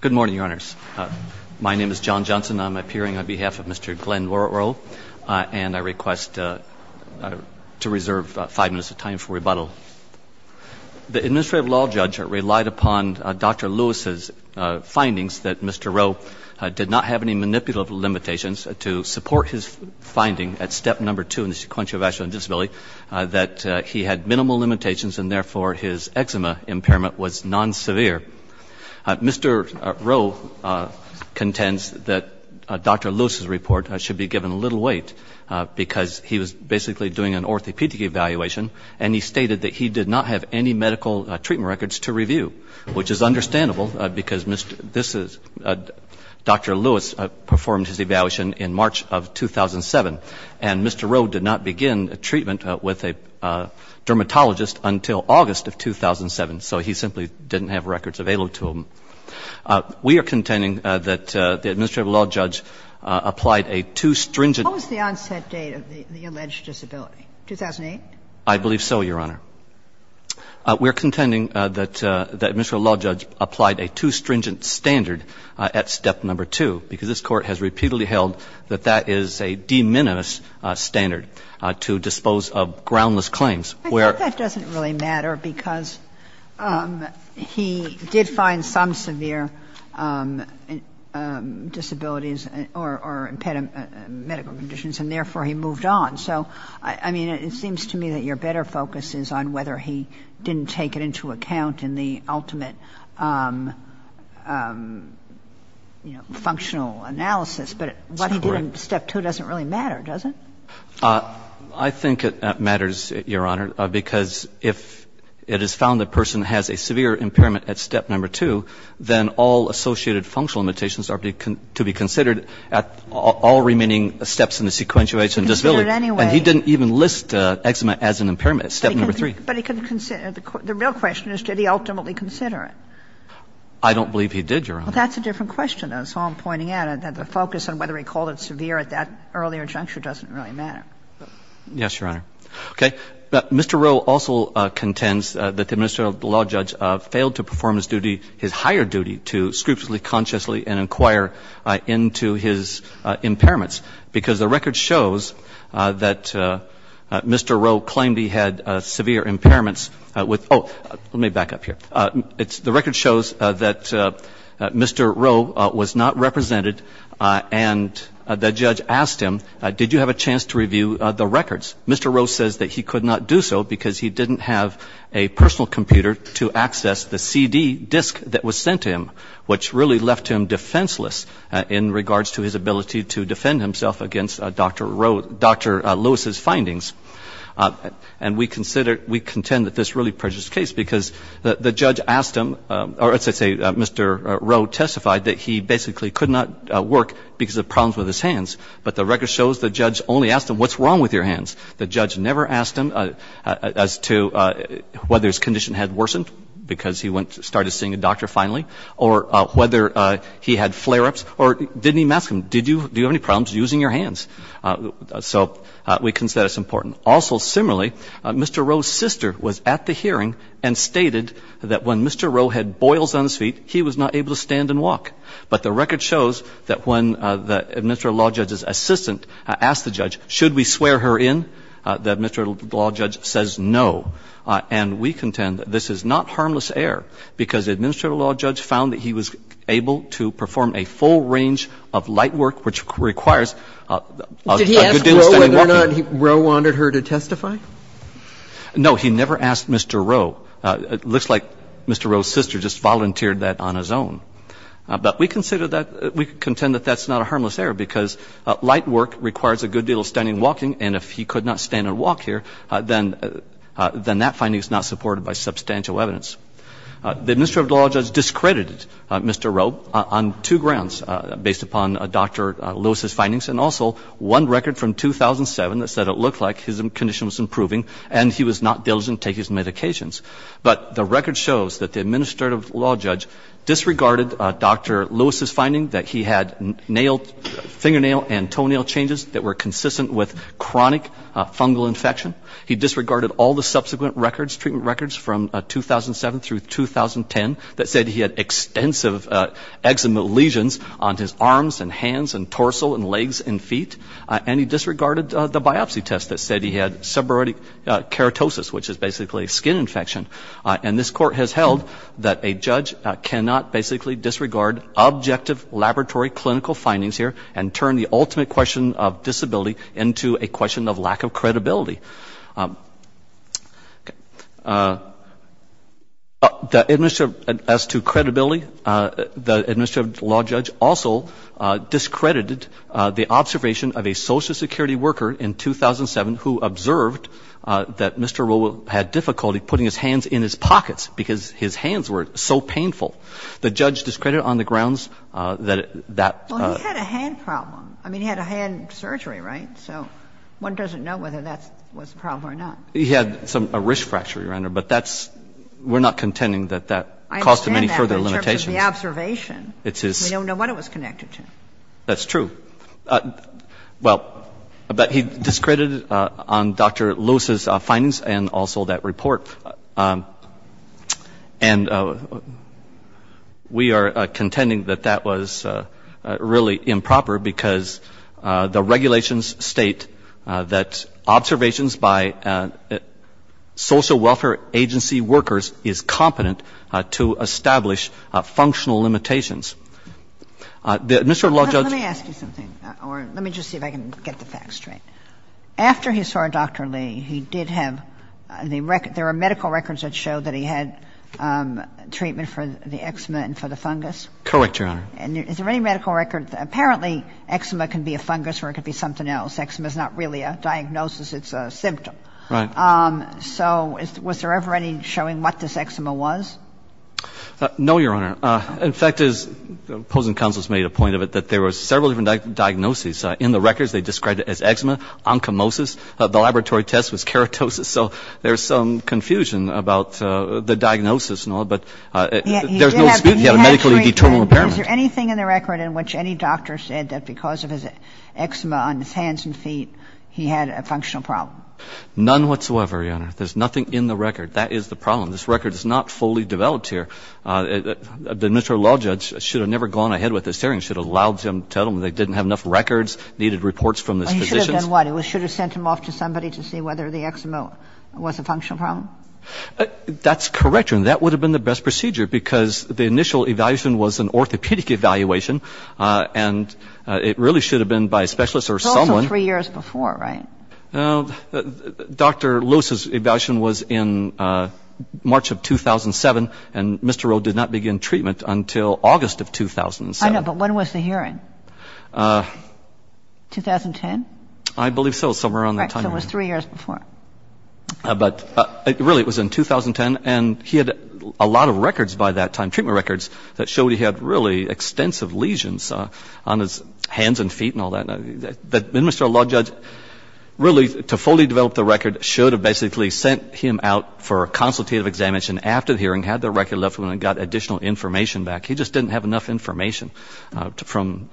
Good morning, Your Honors. My name is John Johnson. I'm appearing on behalf of Mr. Glenn Roe, and I request to reserve five minutes of time for rebuttal. The administrative law judge relied upon Dr. Lewis's findings that Mr. Roe did not have any manipulative limitations to support his finding at step number two in the sequential vascular disability that he had minimal limitations and therefore his eczema impairment was non-severe. Mr. Roe contends that Dr. Lewis's report should be given little weight because he was basically doing an orthopedic evaluation and he stated that he did not have any medical treatment records to review, which is understandable because Dr. Lewis performed his evaluation in March of 2007, and Mr. Roe did not begin treatment with a dermatologist until August of 2007, so he simply didn't have records available to him. We are contending that the administrative law judge applied a too stringent — How was the onset date of the alleged disability? 2008? I believe so, Your Honor. We are contending that the administrative law judge applied a too stringent standard at step number two because this Court has repeatedly held that that is a de minimis standard to dispose of groundless claims where — I think that doesn't really matter because he did find some severe disabilities or medical conditions and therefore he moved on. So, I mean, it seems to me that your better focus is on whether he didn't take it into account in the ultimate, you know, functional analysis, but what he did in step two doesn't really matter, does it? I think it matters, Your Honor, because if it is found the person has a severe impairment at step number two, then all associated functional limitations are to be considered at all remaining steps in the sequentiation disability. And he didn't even list eczema as an impairment at step number three. But he couldn't consider it. The real question is did he ultimately consider it? I don't believe he did, Your Honor. Well, that's a different question. That's all I'm pointing out, that the focus on whether he called it severe at that earlier juncture doesn't really matter. Yes, Your Honor. Okay. Mr. Rowe also contends that the administrative law judge failed to perform his duty, his higher duty, to scrupulously, consciously, and inquire into his impairments because the record shows that Mr. Rowe claimed he had severe impairments with oh, let me back up here. The record shows that Mr. Rowe was not represented and the judge asked him, did you have a chance to review the records? Mr. Rowe says that he could not do so because he didn't have a personal computer to access the CD disc that was sent to him, which really left him defenseless in regards to his ability to defend himself against Dr. Rowe, Dr. Lewis's findings. And we consider, we contend that this really prejudiced the case because the judge asked him, or as I say, Mr. Rowe testified that he basically could not work because of problems with his hands. But the record shows the judge only asked him what's wrong with your hands. The judge never asked him as to whether his condition had worsened because he went to see a doctor, started seeing a doctor finally, or whether he had flare-ups or didn't even ask him, do you have any problems using your hands? So we consider this important. Also, similarly, Mr. Rowe's sister was at the hearing and stated that when Mr. Rowe had boils on his feet, he was not able to stand and walk. But the record shows that when the administrative law judge's assistant asked the judge, should we swear her in, the administrative law judge says no. And we contend that this is not harmless error because the administrative law judge found that he was able to perform a full range of light work, which requires a good deal of standing walking. Kagan. Did he ask Rowe whether or not Rowe wanted her to testify? No. He never asked Mr. Rowe. It looks like Mr. Rowe's sister just volunteered that on his own. But we consider that, we contend that that's not a harmless error because light work requires a good deal of standing walking. And if he could not stand and walk here, then that finding is not supported by substantial evidence. The administrative law judge discredited Mr. Rowe on two grounds, based upon Dr. Lewis's findings and also one record from 2007 that said it looked like his condition was improving and he was not diligent in taking his medications. But the record shows that the administrative law judge disregarded Dr. Lewis's finding that he had fingernail and toenail changes that were consistent with correct chronic fungal infection. He disregarded all the subsequent records, treatment records from 2007 through 2010 that said he had extensive eczema lesions on his arms and hands and torso and legs and feet. And he disregarded the biopsy test that said he had seborrheic keratosis, which is basically a skin infection. And this court has held that a judge cannot basically disregard objective laboratory clinical findings here and turn the ultimate question of disability into a question of lack of credibility. As to credibility, the administrative law judge also discredited the observation of a Social Security worker in 2007 who observed that Mr. Rowe had difficulty putting his hands in his pockets because his hands were so painful. The judge discredited on the grounds that that he had a hand problem. I mean, he had a hand surgery, right? So one doesn't know whether that was the problem or not. He had a wrist fracture, Your Honor. But that's we're not contending that that caused him any further limitations. I understand that in terms of the observation. It's his. We don't know what it was connected to. That's true. Well, but he discredited on Dr. Lewis's findings and also that report. And we are contending that that was really improper because the regulations state that observations by social welfare agency workers is competent to establish functional limitations. The administrative law judge. Let me ask you something, or let me just see if I can get the facts straight. After he saw Dr. Lee, he did have the record. There are medical records that show that he had treatment for the eczema and for the fungus. Correct, Your Honor. And is there any medical record? Apparently, eczema can be a fungus or it could be something else. Eczema is not really a diagnosis. It's a symptom. Right. So was there ever any showing what this eczema was? No, Your Honor. In fact, as opposing counsels made a point of it, that there were several different diagnoses in the records. They described it as eczema, onchomosis. The laboratory test was keratosis. So there's some confusion about the diagnosis and all, but there's no dispute he had a medically determined impairment. Is there anything in the record in which any doctor said that because of his eczema on his hands and feet, he had a functional problem? None whatsoever, Your Honor. There's nothing in the record. That is the problem. This record is not fully developed here. The administrative law judge should have never gone ahead with this hearing, should have allowed him to tell him they didn't have enough records, needed reports from his physicians. He should have done what? He should have sent him off to somebody to see whether the eczema was a functional problem? That's correct, Your Honor. That would have been the best procedure because the initial evaluation was an orthopedic evaluation, and it really should have been by a specialist or someone. It was also three years before, right? Dr. Luce's evaluation was in March of 2007, and Mr. Rowe did not begin treatment until August of 2007. I know, but when was the hearing? 2010? I believe so. Somewhere around that time. Right. So it was three years before. But really, it was in 2010, and he had a lot of records by that time, treatment records, that showed he had really extensive lesions on his hands and feet and all that. The administrative law judge really, to fully develop the record, should have basically sent him out for a consultative examination after the hearing, had the record left with him, and got additional information back. He just didn't have enough information from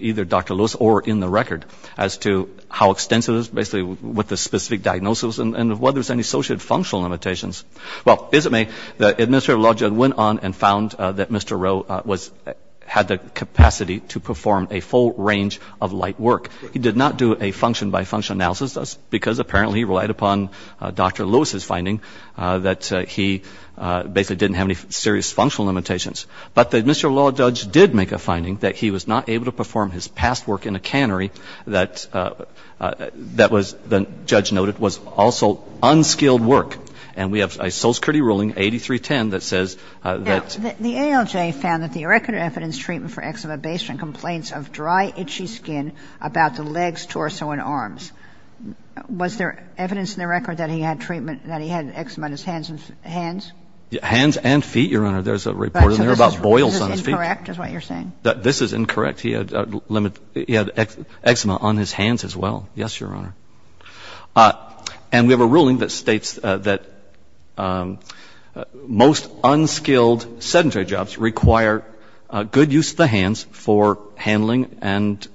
either Dr. Luce or in the record as to how extensive it is, basically with the specific diagnosis and whether there's any associated functional limitations. Well, as it may, the administrative law judge went on and found that Mr. Rowe had the capacity to perform a full range of light work. He did not do a function-by-function analysis. That's because apparently he relied upon Dr. Luce's finding that he basically didn't have any serious functional limitations. But the administrative law judge did make a finding that he was not able to perform his past work in a cannery that was, the judge noted, was also unskilled work. And we have a Solskritti ruling, 8310, that says that the ALJ found that the irrecorded evidence treatment for eczema based on complaints of dry, itchy skin about the legs, torso, and arms. Was there evidence in the record that he had treatment, that he had eczema on his hands and feet? Hands and feet, Your Honor. There's a report in there about boils on his feet. This is incorrect is what you're saying? This is incorrect. He had eczema on his hands as well. Yes, Your Honor. And we have a ruling that states that most unskilled sedentary jobs require good use of the hands for handling and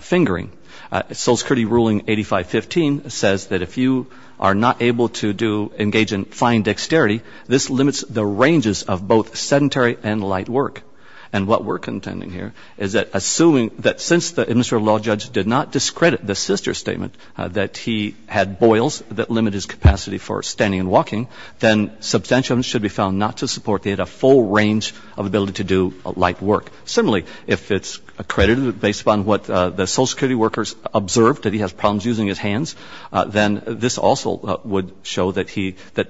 fingering. Solskritti ruling 8515 says that if you are not able to do, engage in fine dexterity, this limits the ranges of both sedentary and light work. And what we're contending here is that assuming that since the administrative law judge did not discredit the sister statement that he had boils that limit his capacity for standing and walking, then substantial evidence should be found not to support that he had a full range of ability to do light work. Similarly, if it's accredited based upon what the Solskritti workers observed, that he has problems using his hands, then this also would show that he, that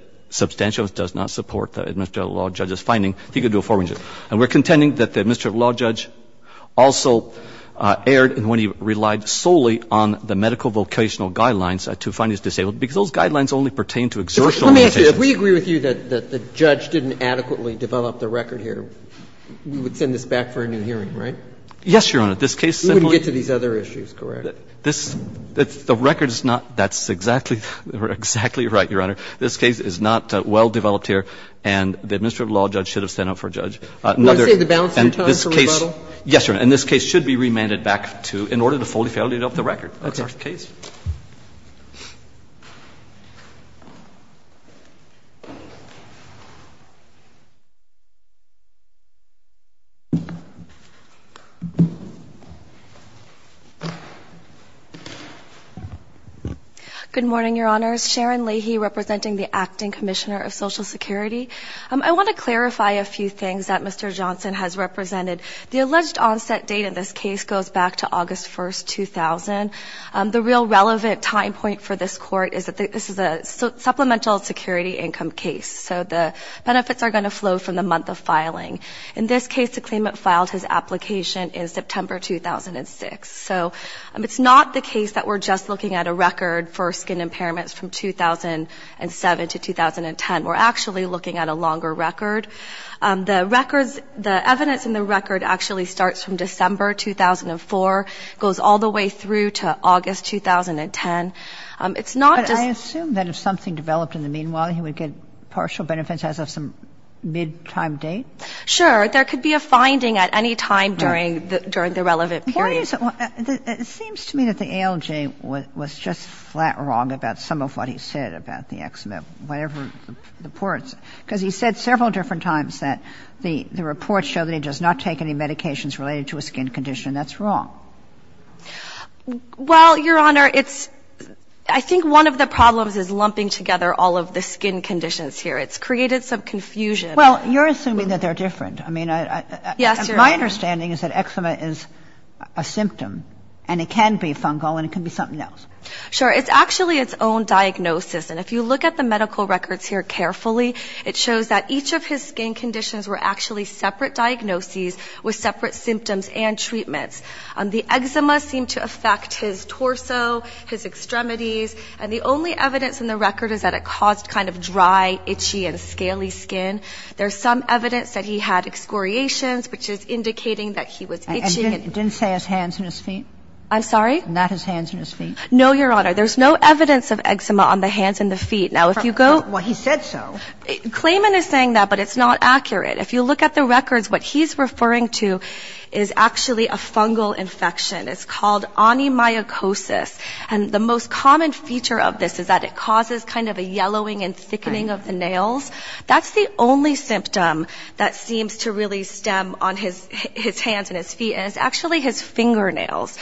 does not support the administrative law judge's finding he could do a full range. And we're contending that the administrative law judge also erred when he relied solely on the medical vocational guidelines to find his disabled, because those guidelines only pertain to exertional limitations. Let me ask you, if we agree with you that the judge didn't adequately develop the record here, we would send this back for a new hearing, right? Yes, Your Honor. This case simply You wouldn't get to these other issues, correct? This, the record is not, that's exactly, exactly right, Your Honor. This case is not well-developed here, and the administrative law judge should have sent it for a judge. Would you say the balance of time for rebuttal? Yes, Your Honor. And this case should be remanded back to, in order to fully validate the record. That's our case. Okay. Good morning, Your Honors. Sharon Leahy, representing the Acting Commissioner of Social Security. I want to clarify a few things that Mr. Johnson has represented. The alleged onset date in this case goes back to August 1st, 2000. The real relevant time point for this Court is that this is a supplemental security income case. So the benefits are going to flow from the month of filing. In this case, the claimant filed his application in September 2006. So it's not the case that we're just looking at a record for skin impairments from 2007 to 2010. We're actually looking at a longer record. The records, the evidence in the record actually starts from December 2004, goes all the way through to August 2010. It's not just — But I assume that if something developed in the meanwhile, he would get partial benefits as of some mid-time date? Sure. There could be a finding at any time during the relevant period. It seems to me that the ALJ was just flat wrong about some of what he said about the eczema, whatever the reports. Because he said several different times that the reports show that he does not take any medications related to a skin condition. That's wrong. Well, Your Honor, it's — I think one of the problems is lumping together all of the skin conditions here. It's created some confusion. Well, you're assuming that they're different. I mean, I — Yes, Your Honor. My understanding is that eczema is a symptom, and it can be fungal, and it can be something else. Sure. It's actually its own diagnosis. And if you look at the medical records here carefully, it shows that each of his skin conditions were actually separate diagnoses with separate symptoms and treatments. The eczema seemed to affect his torso, his extremities. And the only evidence in the record is that it caused kind of dry, itchy, and scaly skin. There's some evidence that he had excoriations, which is indicating that he was itching and — It didn't say his hands and his feet? I'm sorry? Not his hands and his feet. No, Your Honor. There's no evidence of eczema on the hands and the feet. Now, if you go — Well, he said so. Clayman is saying that, but it's not accurate. If you look at the records, what he's referring to is actually a fungal infection. It's called onymycosis. And the most common feature of this is that it causes kind of a yellowing and thickening of the nails. That's the only symptom that seems to really stem on his hands and his feet, and it's actually his fingernails.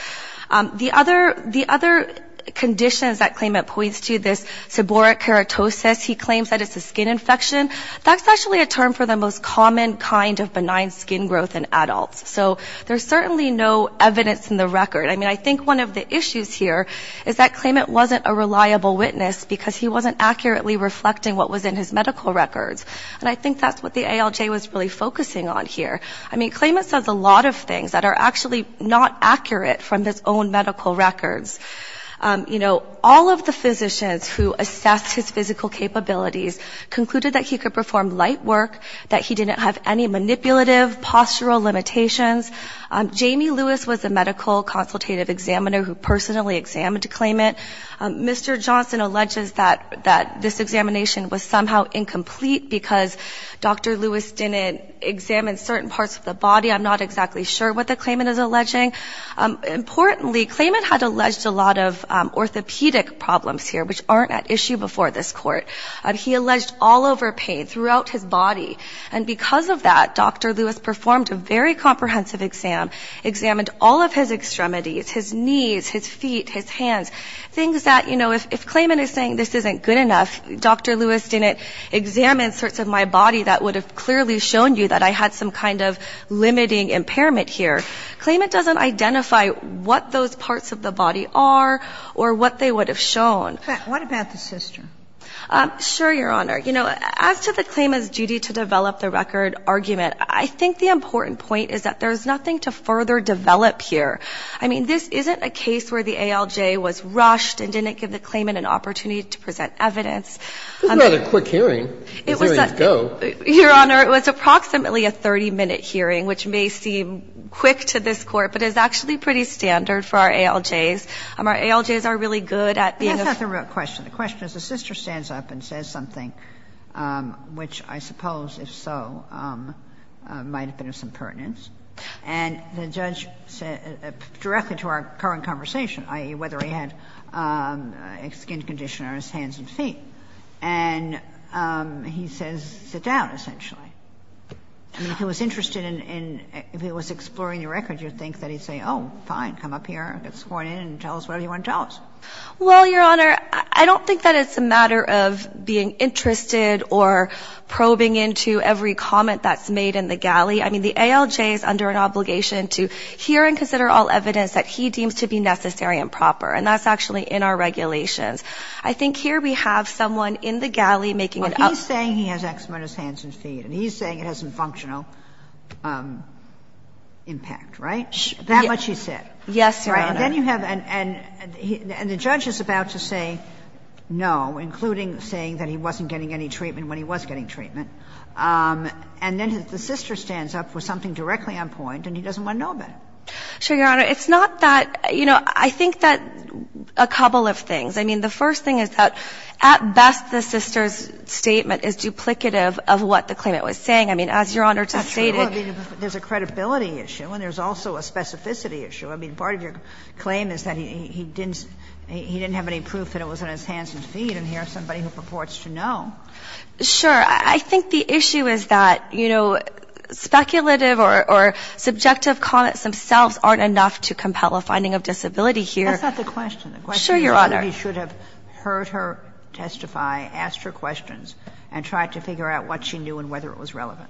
The other conditions that Clayman points to, this seborrheic keratosis, he claims that it's a skin infection. That's actually a term for the most common kind of benign skin growth in adults. So there's certainly no evidence in the record. I mean, I think one of the issues here is that Clayman wasn't a reliable witness because he wasn't accurately reflecting what was in his medical records. And I think that's what the ALJ was really focusing on here. I mean, Clayman says a lot of things that are actually not accurate from his own medical records. You know, all of the physicians who assessed his physical capabilities concluded that he could perform light work, that he didn't have any manipulative postural limitations. Jamie Lewis was a medical consultative examiner who personally examined Clayman. Mr. Johnson alleges that this examination was somehow incomplete because Dr. Lewis didn't examine certain parts of the body. I'm not exactly sure what the Clayman is alleging. Importantly, Clayman had alleged a lot of orthopedic problems here, which aren't at issue before this court. He alleged all over pain throughout his body. And because of that, Dr. Lewis performed a very comprehensive exam, examined all of his extremities, his knees, his feet, his hands, things that, you know, if Clayman is saying this isn't good enough, Dr. Lewis didn't examine certain parts of my body that would have clearly shown you that I had some kind of limiting impairment here, Clayman doesn't identify what those parts of the body are or what they would have shown. What about the sister? Sure, Your Honor. You know, as to the Clayman's duty to develop the record argument, I think the important point is that there's nothing to further develop here. I mean, this isn't a case where the ALJ was rushed and didn't give the Clayman an opportunity to present evidence. This is not a quick hearing. The hearing is go. Your Honor, it was approximately a 30-minute hearing, which may seem quick to this Court, but is actually pretty standard for our ALJs. Our ALJs are really good at being a ---- That's not the real question. The question is the sister stands up and says something, which I suppose, if so, might have been of some pertinence. And the judge said, directly to our current conversation, i.e., whether he had a skin condition or his hands and feet, and he says, sit down, essentially. I mean, if he was interested in, if he was exploring the record, you'd think that he'd say, oh, fine, come up here, get sworn in and tell us whatever you want to tell us. Well, Your Honor, I don't think that it's a matter of being interested or probing into every comment that's made in the galley. I mean, the ALJ is under an obligation to hear and consider all evidence that he deems to be necessary and proper, and that's actually in our regulations. I think here we have someone in the galley making it up. Well, he's saying he has X-minus hands and feet, and he's saying it has some functional impact, right? That much he said. Yes, Your Honor. Right? And then you have, and the judge is about to say no, including saying that he wasn't getting any treatment when he was getting treatment. And then the sister stands up with something directly on point, and he doesn't want to know about it. Sure, Your Honor. It's not that, you know, I think that a couple of things. I mean, the first thing is that, at best, the sister's statement is duplicative of what the claimant was saying. I mean, as Your Honor just stated. That's true. I mean, there's a credibility issue, and there's also a specificity issue. I mean, part of your claim is that he didn't, he didn't have any proof that it was X-minus hands and feet, and here's somebody who purports to know. Sure. I think the issue is that, you know, speculative or subjective comments themselves aren't enough to compel a finding of disability here. That's not the question. Sure, Your Honor. The question is somebody should have heard her testify, asked her questions, and tried to figure out what she knew and whether it was relevant.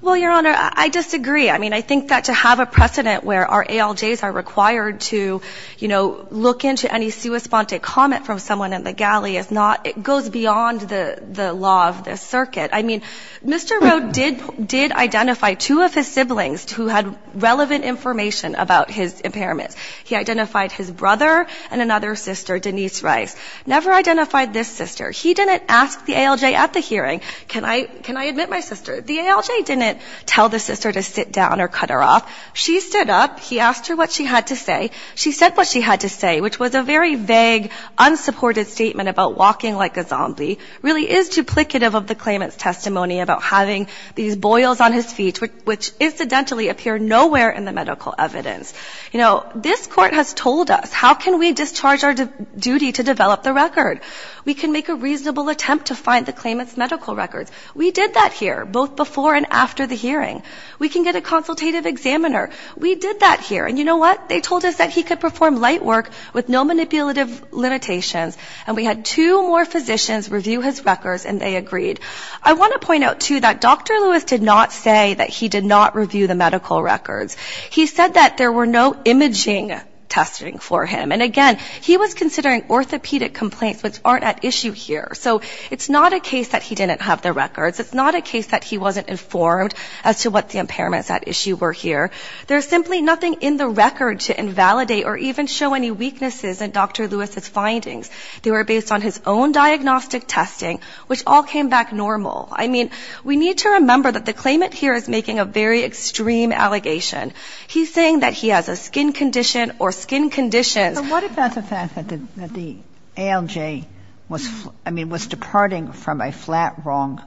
Well, Your Honor, I disagree. I mean, I think that to have a precedent where our ALJs are required to, you know, look into any sui sponte comment from someone in the galley is not, it goes beyond the law of this circuit. I mean, Mr. Rowe did identify two of his siblings who had relevant information about his impairments. He identified his brother and another sister, Denise Rice. Never identified this sister. He didn't ask the ALJ at the hearing, can I admit my sister? The ALJ didn't tell the sister to sit down or cut her off. She stood up. He asked her what she had to say. She said what she had to say, which was a very vague, unsupported statement about walking like a zombie. Really is duplicative of the claimant's testimony about having these boils on his feet, which incidentally appear nowhere in the medical evidence. You know, this Court has told us how can we discharge our duty to develop the record. We can make a reasonable attempt to find the claimant's medical records. We did that here, both before and after the hearing. We can get a consultative examiner. We did that here. And you know what? They told us that he could perform light work with no manipulative limitations. And we had two more physicians review his records, and they agreed. I want to point out, too, that Dr. Lewis did not say that he did not review the medical records. He said that there were no imaging testing for him. And again, he was considering orthopedic complaints, which aren't at issue here. So it's not a case that he didn't have the records. It's not a case that he wasn't informed as to what the impairments at issue were here. There's simply nothing in the record to invalidate or even show any weaknesses in Dr. Lewis's findings. They were based on his own diagnostic testing, which all came back normal. I mean, we need to remember that the claimant here is making a very extreme allegation. He's saying that he has a skin condition or skin conditions. So what about the fact that the ALJ was, I mean, was departing from a flat wrong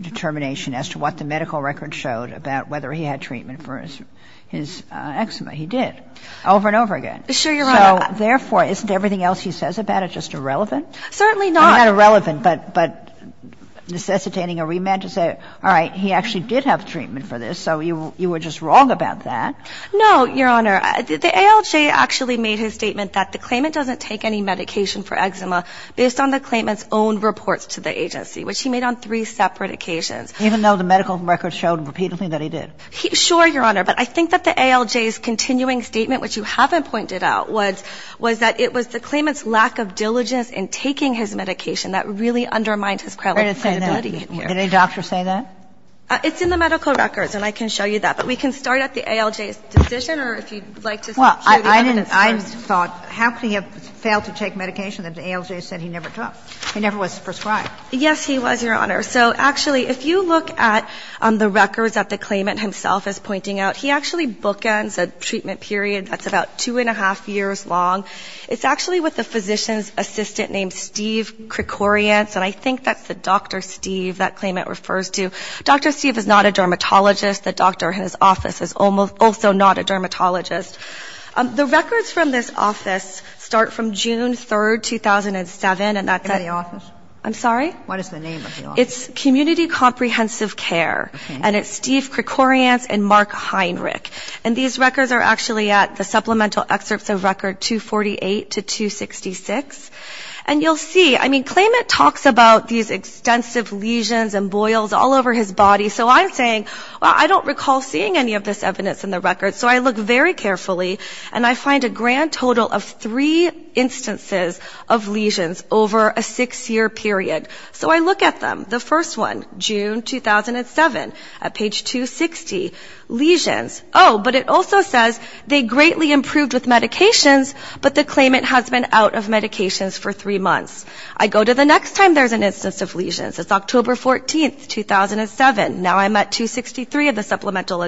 determination as to what the medical records showed about whether he had treatment for his eczema? He did, over and over again. Sure, Your Honor. So therefore, isn't everything else he says about it just irrelevant? Certainly not. Not irrelevant, but necessitating a rematch to say, all right, he actually did have treatment for this, so you were just wrong about that. No, Your Honor. The ALJ actually made his statement that the claimant doesn't take any medication for eczema based on the claimant's own reports to the agency, which he made on three separate occasions. Even though the medical records showed repeatedly that he did? Sure, Your Honor. But I think that the ALJ's continuing statement, which you haven't pointed out, was that it was the claimant's lack of diligence in taking his medication that really undermined his credibility in here. Did it say that? Did any doctor say that? It's in the medical records, and I can show you that. But we can start at the ALJ's decision, or if you'd like to show the evidence. Well, I didn't. I thought, how could he have failed to take medication that the ALJ said he never took? He never was prescribed. Yes, he was, Your Honor. So actually, if you look at the records that the claimant himself is pointing out, he actually bookends a treatment period that's about two and a half years long. It's actually with a physician's assistant named Steve Krikorians, and I think that's the Dr. Steve that claimant refers to. Dr. Steve is not a dermatologist. The doctor in his office is also not a dermatologist. The records from this office start from June 3, 2007, and that's at the office. I'm sorry? What is the name of the office? It's Community Comprehensive Care, and it's Steve Krikorians and Mark Heinrich. And these records are actually at the supplemental excerpts of record 248 to 266. And you'll see, I mean, claimant talks about these extensive lesions and boils all over his body. So I'm saying, well, I don't recall seeing any of this evidence in the records. So I look very carefully, and I find a grand total of three instances of lesions over a six-year period. So I look at them. The first one, June 2007, at page 260, lesions. Oh, but it also says they greatly improved with medications, but the claimant has been out of medications for three months. I go to the next time there's an instance of lesions. It's October 14, 2007. Now I'm at 263 of the supplemental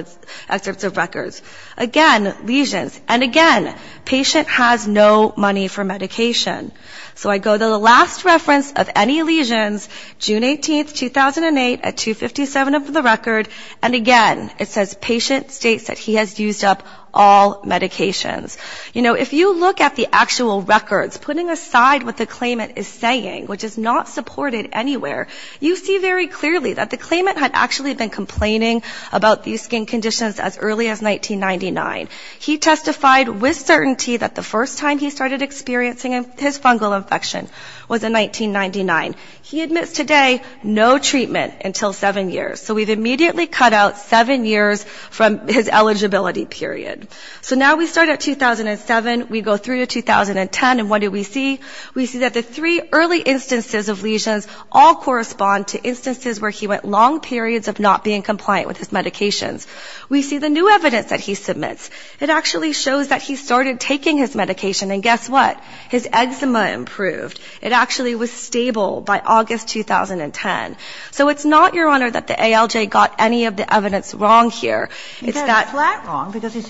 excerpts of records. Again, lesions. And again, patient has no money for medication. So I go to the last reference of any lesions, June 18, 2008, at 257 of the record. And again, it says patient states that he has used up all medications. You know, if you look at the actual records, putting aside what the claimant is saying, which is not supported anywhere, you see very clearly that the claimant had actually been complaining about these skin conditions as early as 1999. He testified with certainty that the first time he started experiencing his fungal infection was in 1999. He admits today no treatment until seven years. So we've immediately cut out seven years from his eligibility period. So now we start at 2007. We go through to 2010, and what do we see? We see that the three early instances of lesions all correspond to instances where he went long periods of not being compliant with his medications. We see the new evidence that he submits. It actually shows that he started taking his medication, and guess what? His eczema improved. It actually was stable by August 2010. So it's not, Your Honor, that the ALJ got any of the evidence wrong here. It's that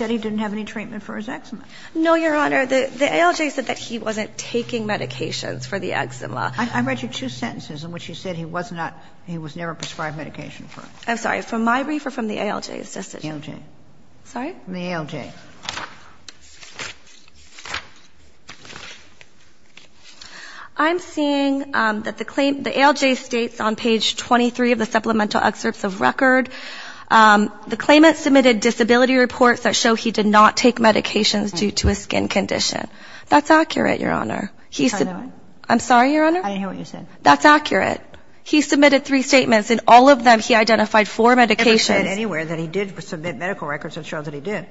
he didn't have any treatment for his eczema. No, Your Honor. The ALJ said that he wasn't taking medications for the eczema. I read you two sentences in which you said he was not, he was never prescribed medication for it. I'm sorry. From my brief or from the ALJ's decision? ALJ. Sorry? From the ALJ. I'm seeing that the claim the ALJ states on page 23 of the supplemental excerpts of record, the claimant submitted disability reports that show he did not take medications due to a skin condition. That's accurate, Your Honor. I'm sorry, Your Honor? I didn't hear what you said. That's accurate. He submitted three statements. In all of them, he identified four medications. I never said anywhere that he did submit medical records. It shows that he did.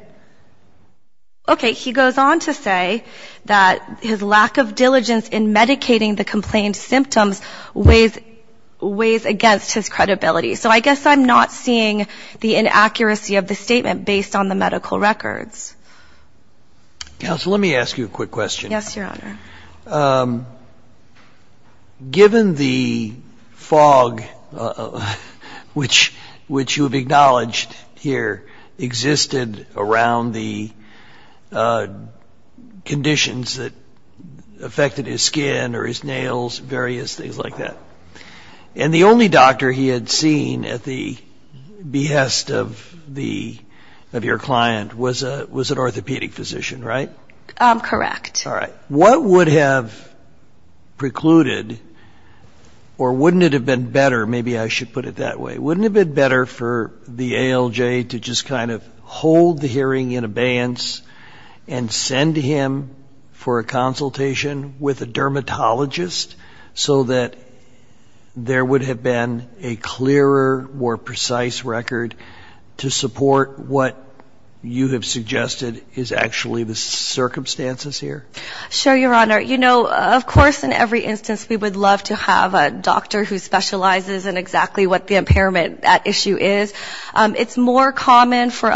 Okay. He goes on to say that his lack of diligence in medicating the complained symptoms weighs against his credibility. So I guess I'm not seeing the inaccuracy of the statement based on the medical records. Counsel, let me ask you a quick question. Yes, Your Honor. Given the fog which you have acknowledged here existed around the conditions that affected his skin or his nails, various things like that, and the only doctor he had seen at the behest of your client was an orthopedic physician, right? Correct. All right. What would have precluded, or wouldn't it have been better, maybe I should put it that way, wouldn't it have been better for the ALJ to just kind of hold the hearing in abeyance and send him for a consultation with a dermatologist so that there would have been a clearer or precise record to support what you have suggested is actually the circumstances here? Sure, Your Honor. You know, of course in every instance we would love to have a doctor who specializes in exactly what the impairment at issue is. It's more common for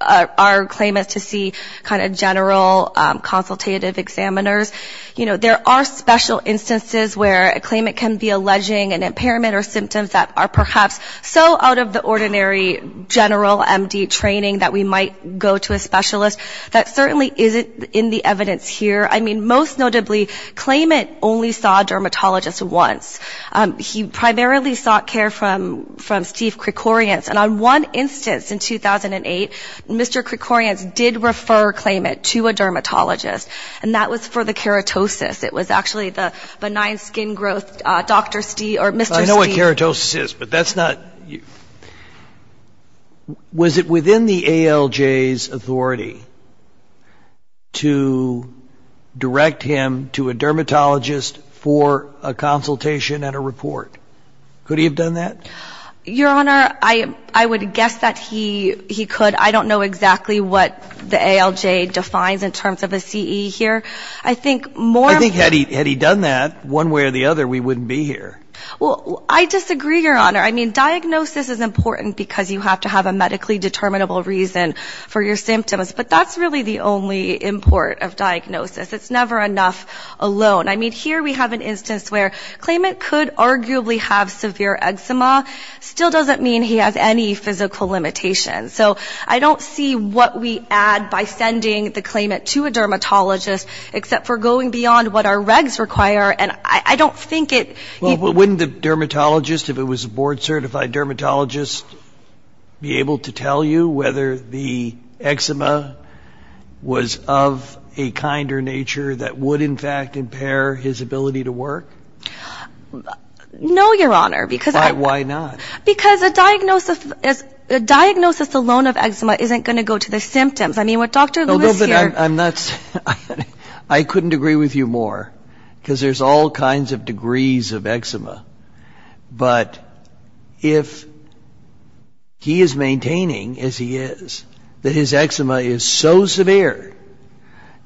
our claimants to see kind of general consultative examiners. You know, there are special instances where a claimant can be alleging an impairment or symptoms that are perhaps so out of the ordinary general MD training that we might go to a specialist. That certainly isn't in the evidence here. I mean, most notably, claimant only saw a dermatologist once. He primarily sought care from Steve Krikorians. And on one instance in 2008, Mr. Krikorians did refer a claimant to a dermatologist for keratosis. It was actually the benign skin growth Dr. Stee or Mr. Stee. I know what keratosis is, but that's not you. Was it within the ALJ's authority to direct him to a dermatologist for a consultation and a report? Could he have done that? Your Honor, I would guess that he could. I don't know exactly what the ALJ defines in terms of a CE here. I think had he done that one way or the other, we wouldn't be here. Well, I disagree, Your Honor. I mean, diagnosis is important because you have to have a medically determinable reason for your symptoms. But that's really the only import of diagnosis. It's never enough alone. I mean, here we have an instance where claimant could arguably have severe eczema. Still doesn't mean he has any physical limitations. So I don't see what we add by sending the claimant to a dermatologist except for going beyond what our regs require, and I don't think it would. Well, wouldn't the dermatologist, if it was a board-certified dermatologist, be able to tell you whether the eczema was of a kinder nature that would, in fact, impair his ability to work? No, Your Honor. Why not? Because a diagnosis alone of eczema isn't going to go to the symptoms. I mean, what Dr. Lewis here ---- No, but I'm not ---- I couldn't agree with you more because there's all kinds of degrees of eczema. But if he is maintaining, as he is, that his eczema is so severe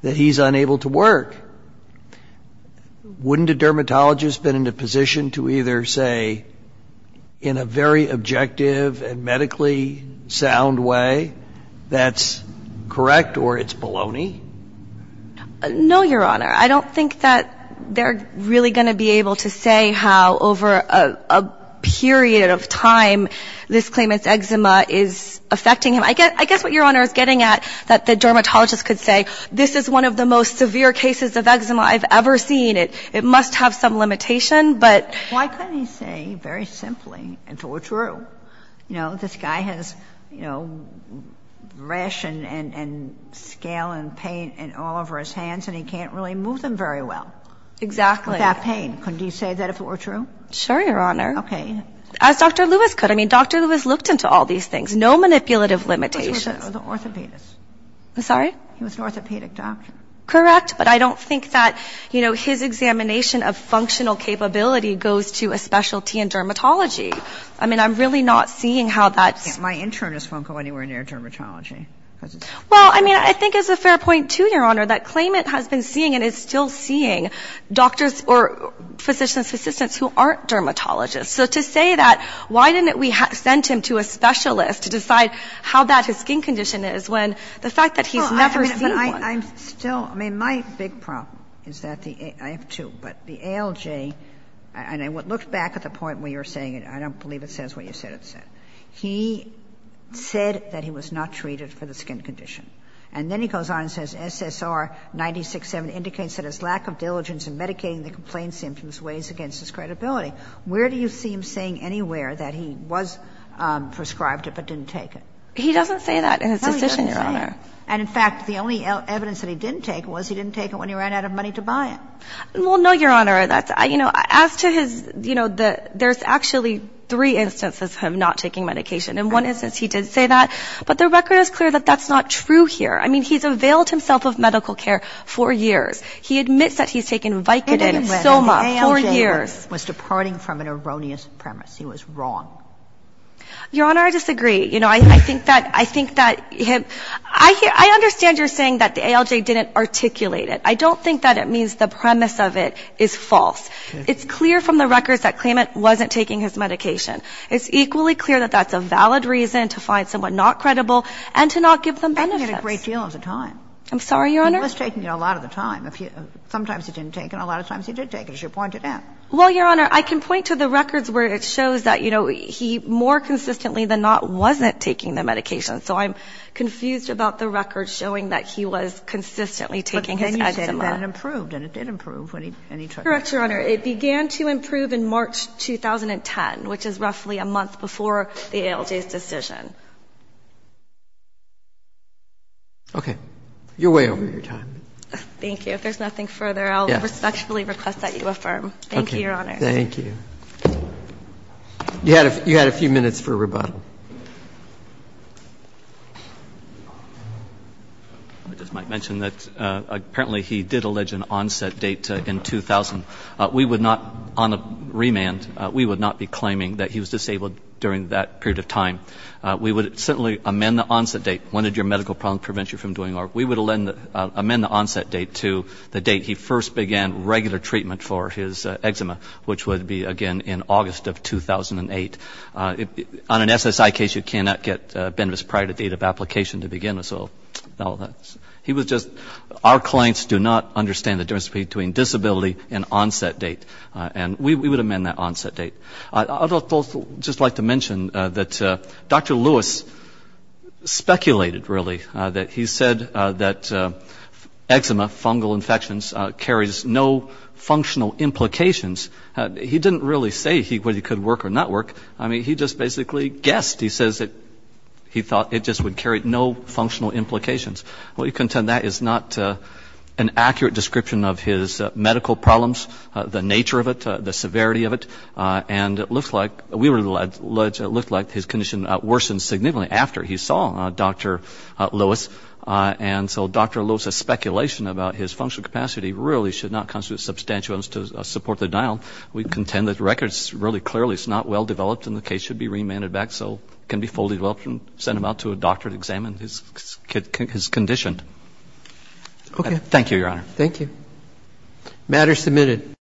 that he's unable to work, wouldn't a dermatologist have been in a position to either say, in a very objective and medically sound way, that's correct or it's baloney? No, Your Honor. I don't think that they're really going to be able to say how, over a period of time, this claimant's eczema is affecting him. I guess what Your Honor is getting at, that the dermatologist could say, this is one of the most severe cases of eczema I've ever seen. It must have some limitation, but ---- Why couldn't he say, very simply, if it were true, this guy has rash and scale and pain all over his hands and he can't really move them very well? Exactly. With that pain. Couldn't he say that if it were true? Sure, Your Honor. Okay. As Dr. Lewis could. I mean, Dr. Lewis looked into all these things. No manipulative limitations. He was an orthopedist. I'm sorry? He was an orthopedic doctor. Correct. But I don't think that, you know, his examination of functional capability goes to a specialty in dermatology. I mean, I'm really not seeing how that's ---- My internist won't go anywhere near dermatology. Well, I mean, I think it's a fair point, too, Your Honor, that claimant has been seeing and is still seeing doctors or physicians assistants who aren't dermatologists. So to say that, why didn't we send him to a specialist to decide how bad his skin condition is when the fact that he's never seen one? I'm still ---- I mean, my big problem is that the ALJ, and I looked back at the point where you were saying it. I don't believe it says what you said it said. He said that he was not treated for the skin condition. And then he goes on and says SSR 96-7 indicates that his lack of diligence in medicating the complaint symptoms weighs against his credibility. Where do you see him saying anywhere that he was prescribed it but didn't take it? No, he doesn't say it. And in fact, the only evidence that he didn't take it was he didn't take it when he ran out of money to buy it. Well, no, Your Honor. That's ---- you know, as to his, you know, the ---- there's actually three instances of him not taking medication. In one instance, he did say that. But the record is clear that that's not true here. I mean, he's availed himself of medical care for years. He admits that he's taken Vicodin and Soma for years. The ALJ was departing from an erroneous premise. He was wrong. Your Honor, I disagree. You know, I think that he had ---- I understand you're saying that the ALJ didn't articulate it. I don't think that it means the premise of it is false. It's clear from the records that Klamath wasn't taking his medication. It's equally clear that that's a valid reason to find someone not credible and to not give them benefits. He was taking it a great deal of the time. I'm sorry, Your Honor? He was taking it a lot of the time. Sometimes he didn't take it. A lot of times he did take it, as you pointed out. Well, Your Honor, I can point to the records where it shows that, you know, he more consistently than not wasn't taking the medication. So I'm confused about the records showing that he was consistently taking his edema. But then you said that it improved, and it did improve when he took it. Correct, Your Honor. It began to improve in March 2010, which is roughly a month before the ALJ's decision. Okay. You're way over your time. Thank you. If there's nothing further, I'll respectfully request that you affirm. Thank you, Your Honor. Thank you. You had a few minutes for rebuttal. I just might mention that apparently he did allege an onset date in 2000. We would not, on a remand, we would not be claiming that he was disabled during that period of time. We would certainly amend the onset date. When did your medical problems prevent you from doing ORC? We would amend the onset date to the date he first began regular treatment for his illness, again, in August of 2008. On an SSI case, you cannot get Benvis prior to date of application to begin with. So he was just, our clients do not understand the difference between disability and onset date. And we would amend that onset date. I'd also just like to mention that Dr. Lewis speculated, really, that he said that eczema, fungal infections, carries no functional implications. He didn't really say whether he could work or not work. I mean, he just basically guessed. He says that he thought it just would carry no functional implications. We contend that is not an accurate description of his medical problems, the nature of it, the severity of it. And it looks like, we would allege it looked like his condition worsened significantly after he saw Dr. Lewis. And so Dr. Lewis's speculation about his functional capacity really should not constitute substantial to support the denial. We contend that records really clearly it's not well developed and the case should be remanded back so it can be fully developed and sent him out to a doctor to examine his condition. Thank you, Your Honor. Thank you. Matter submitted.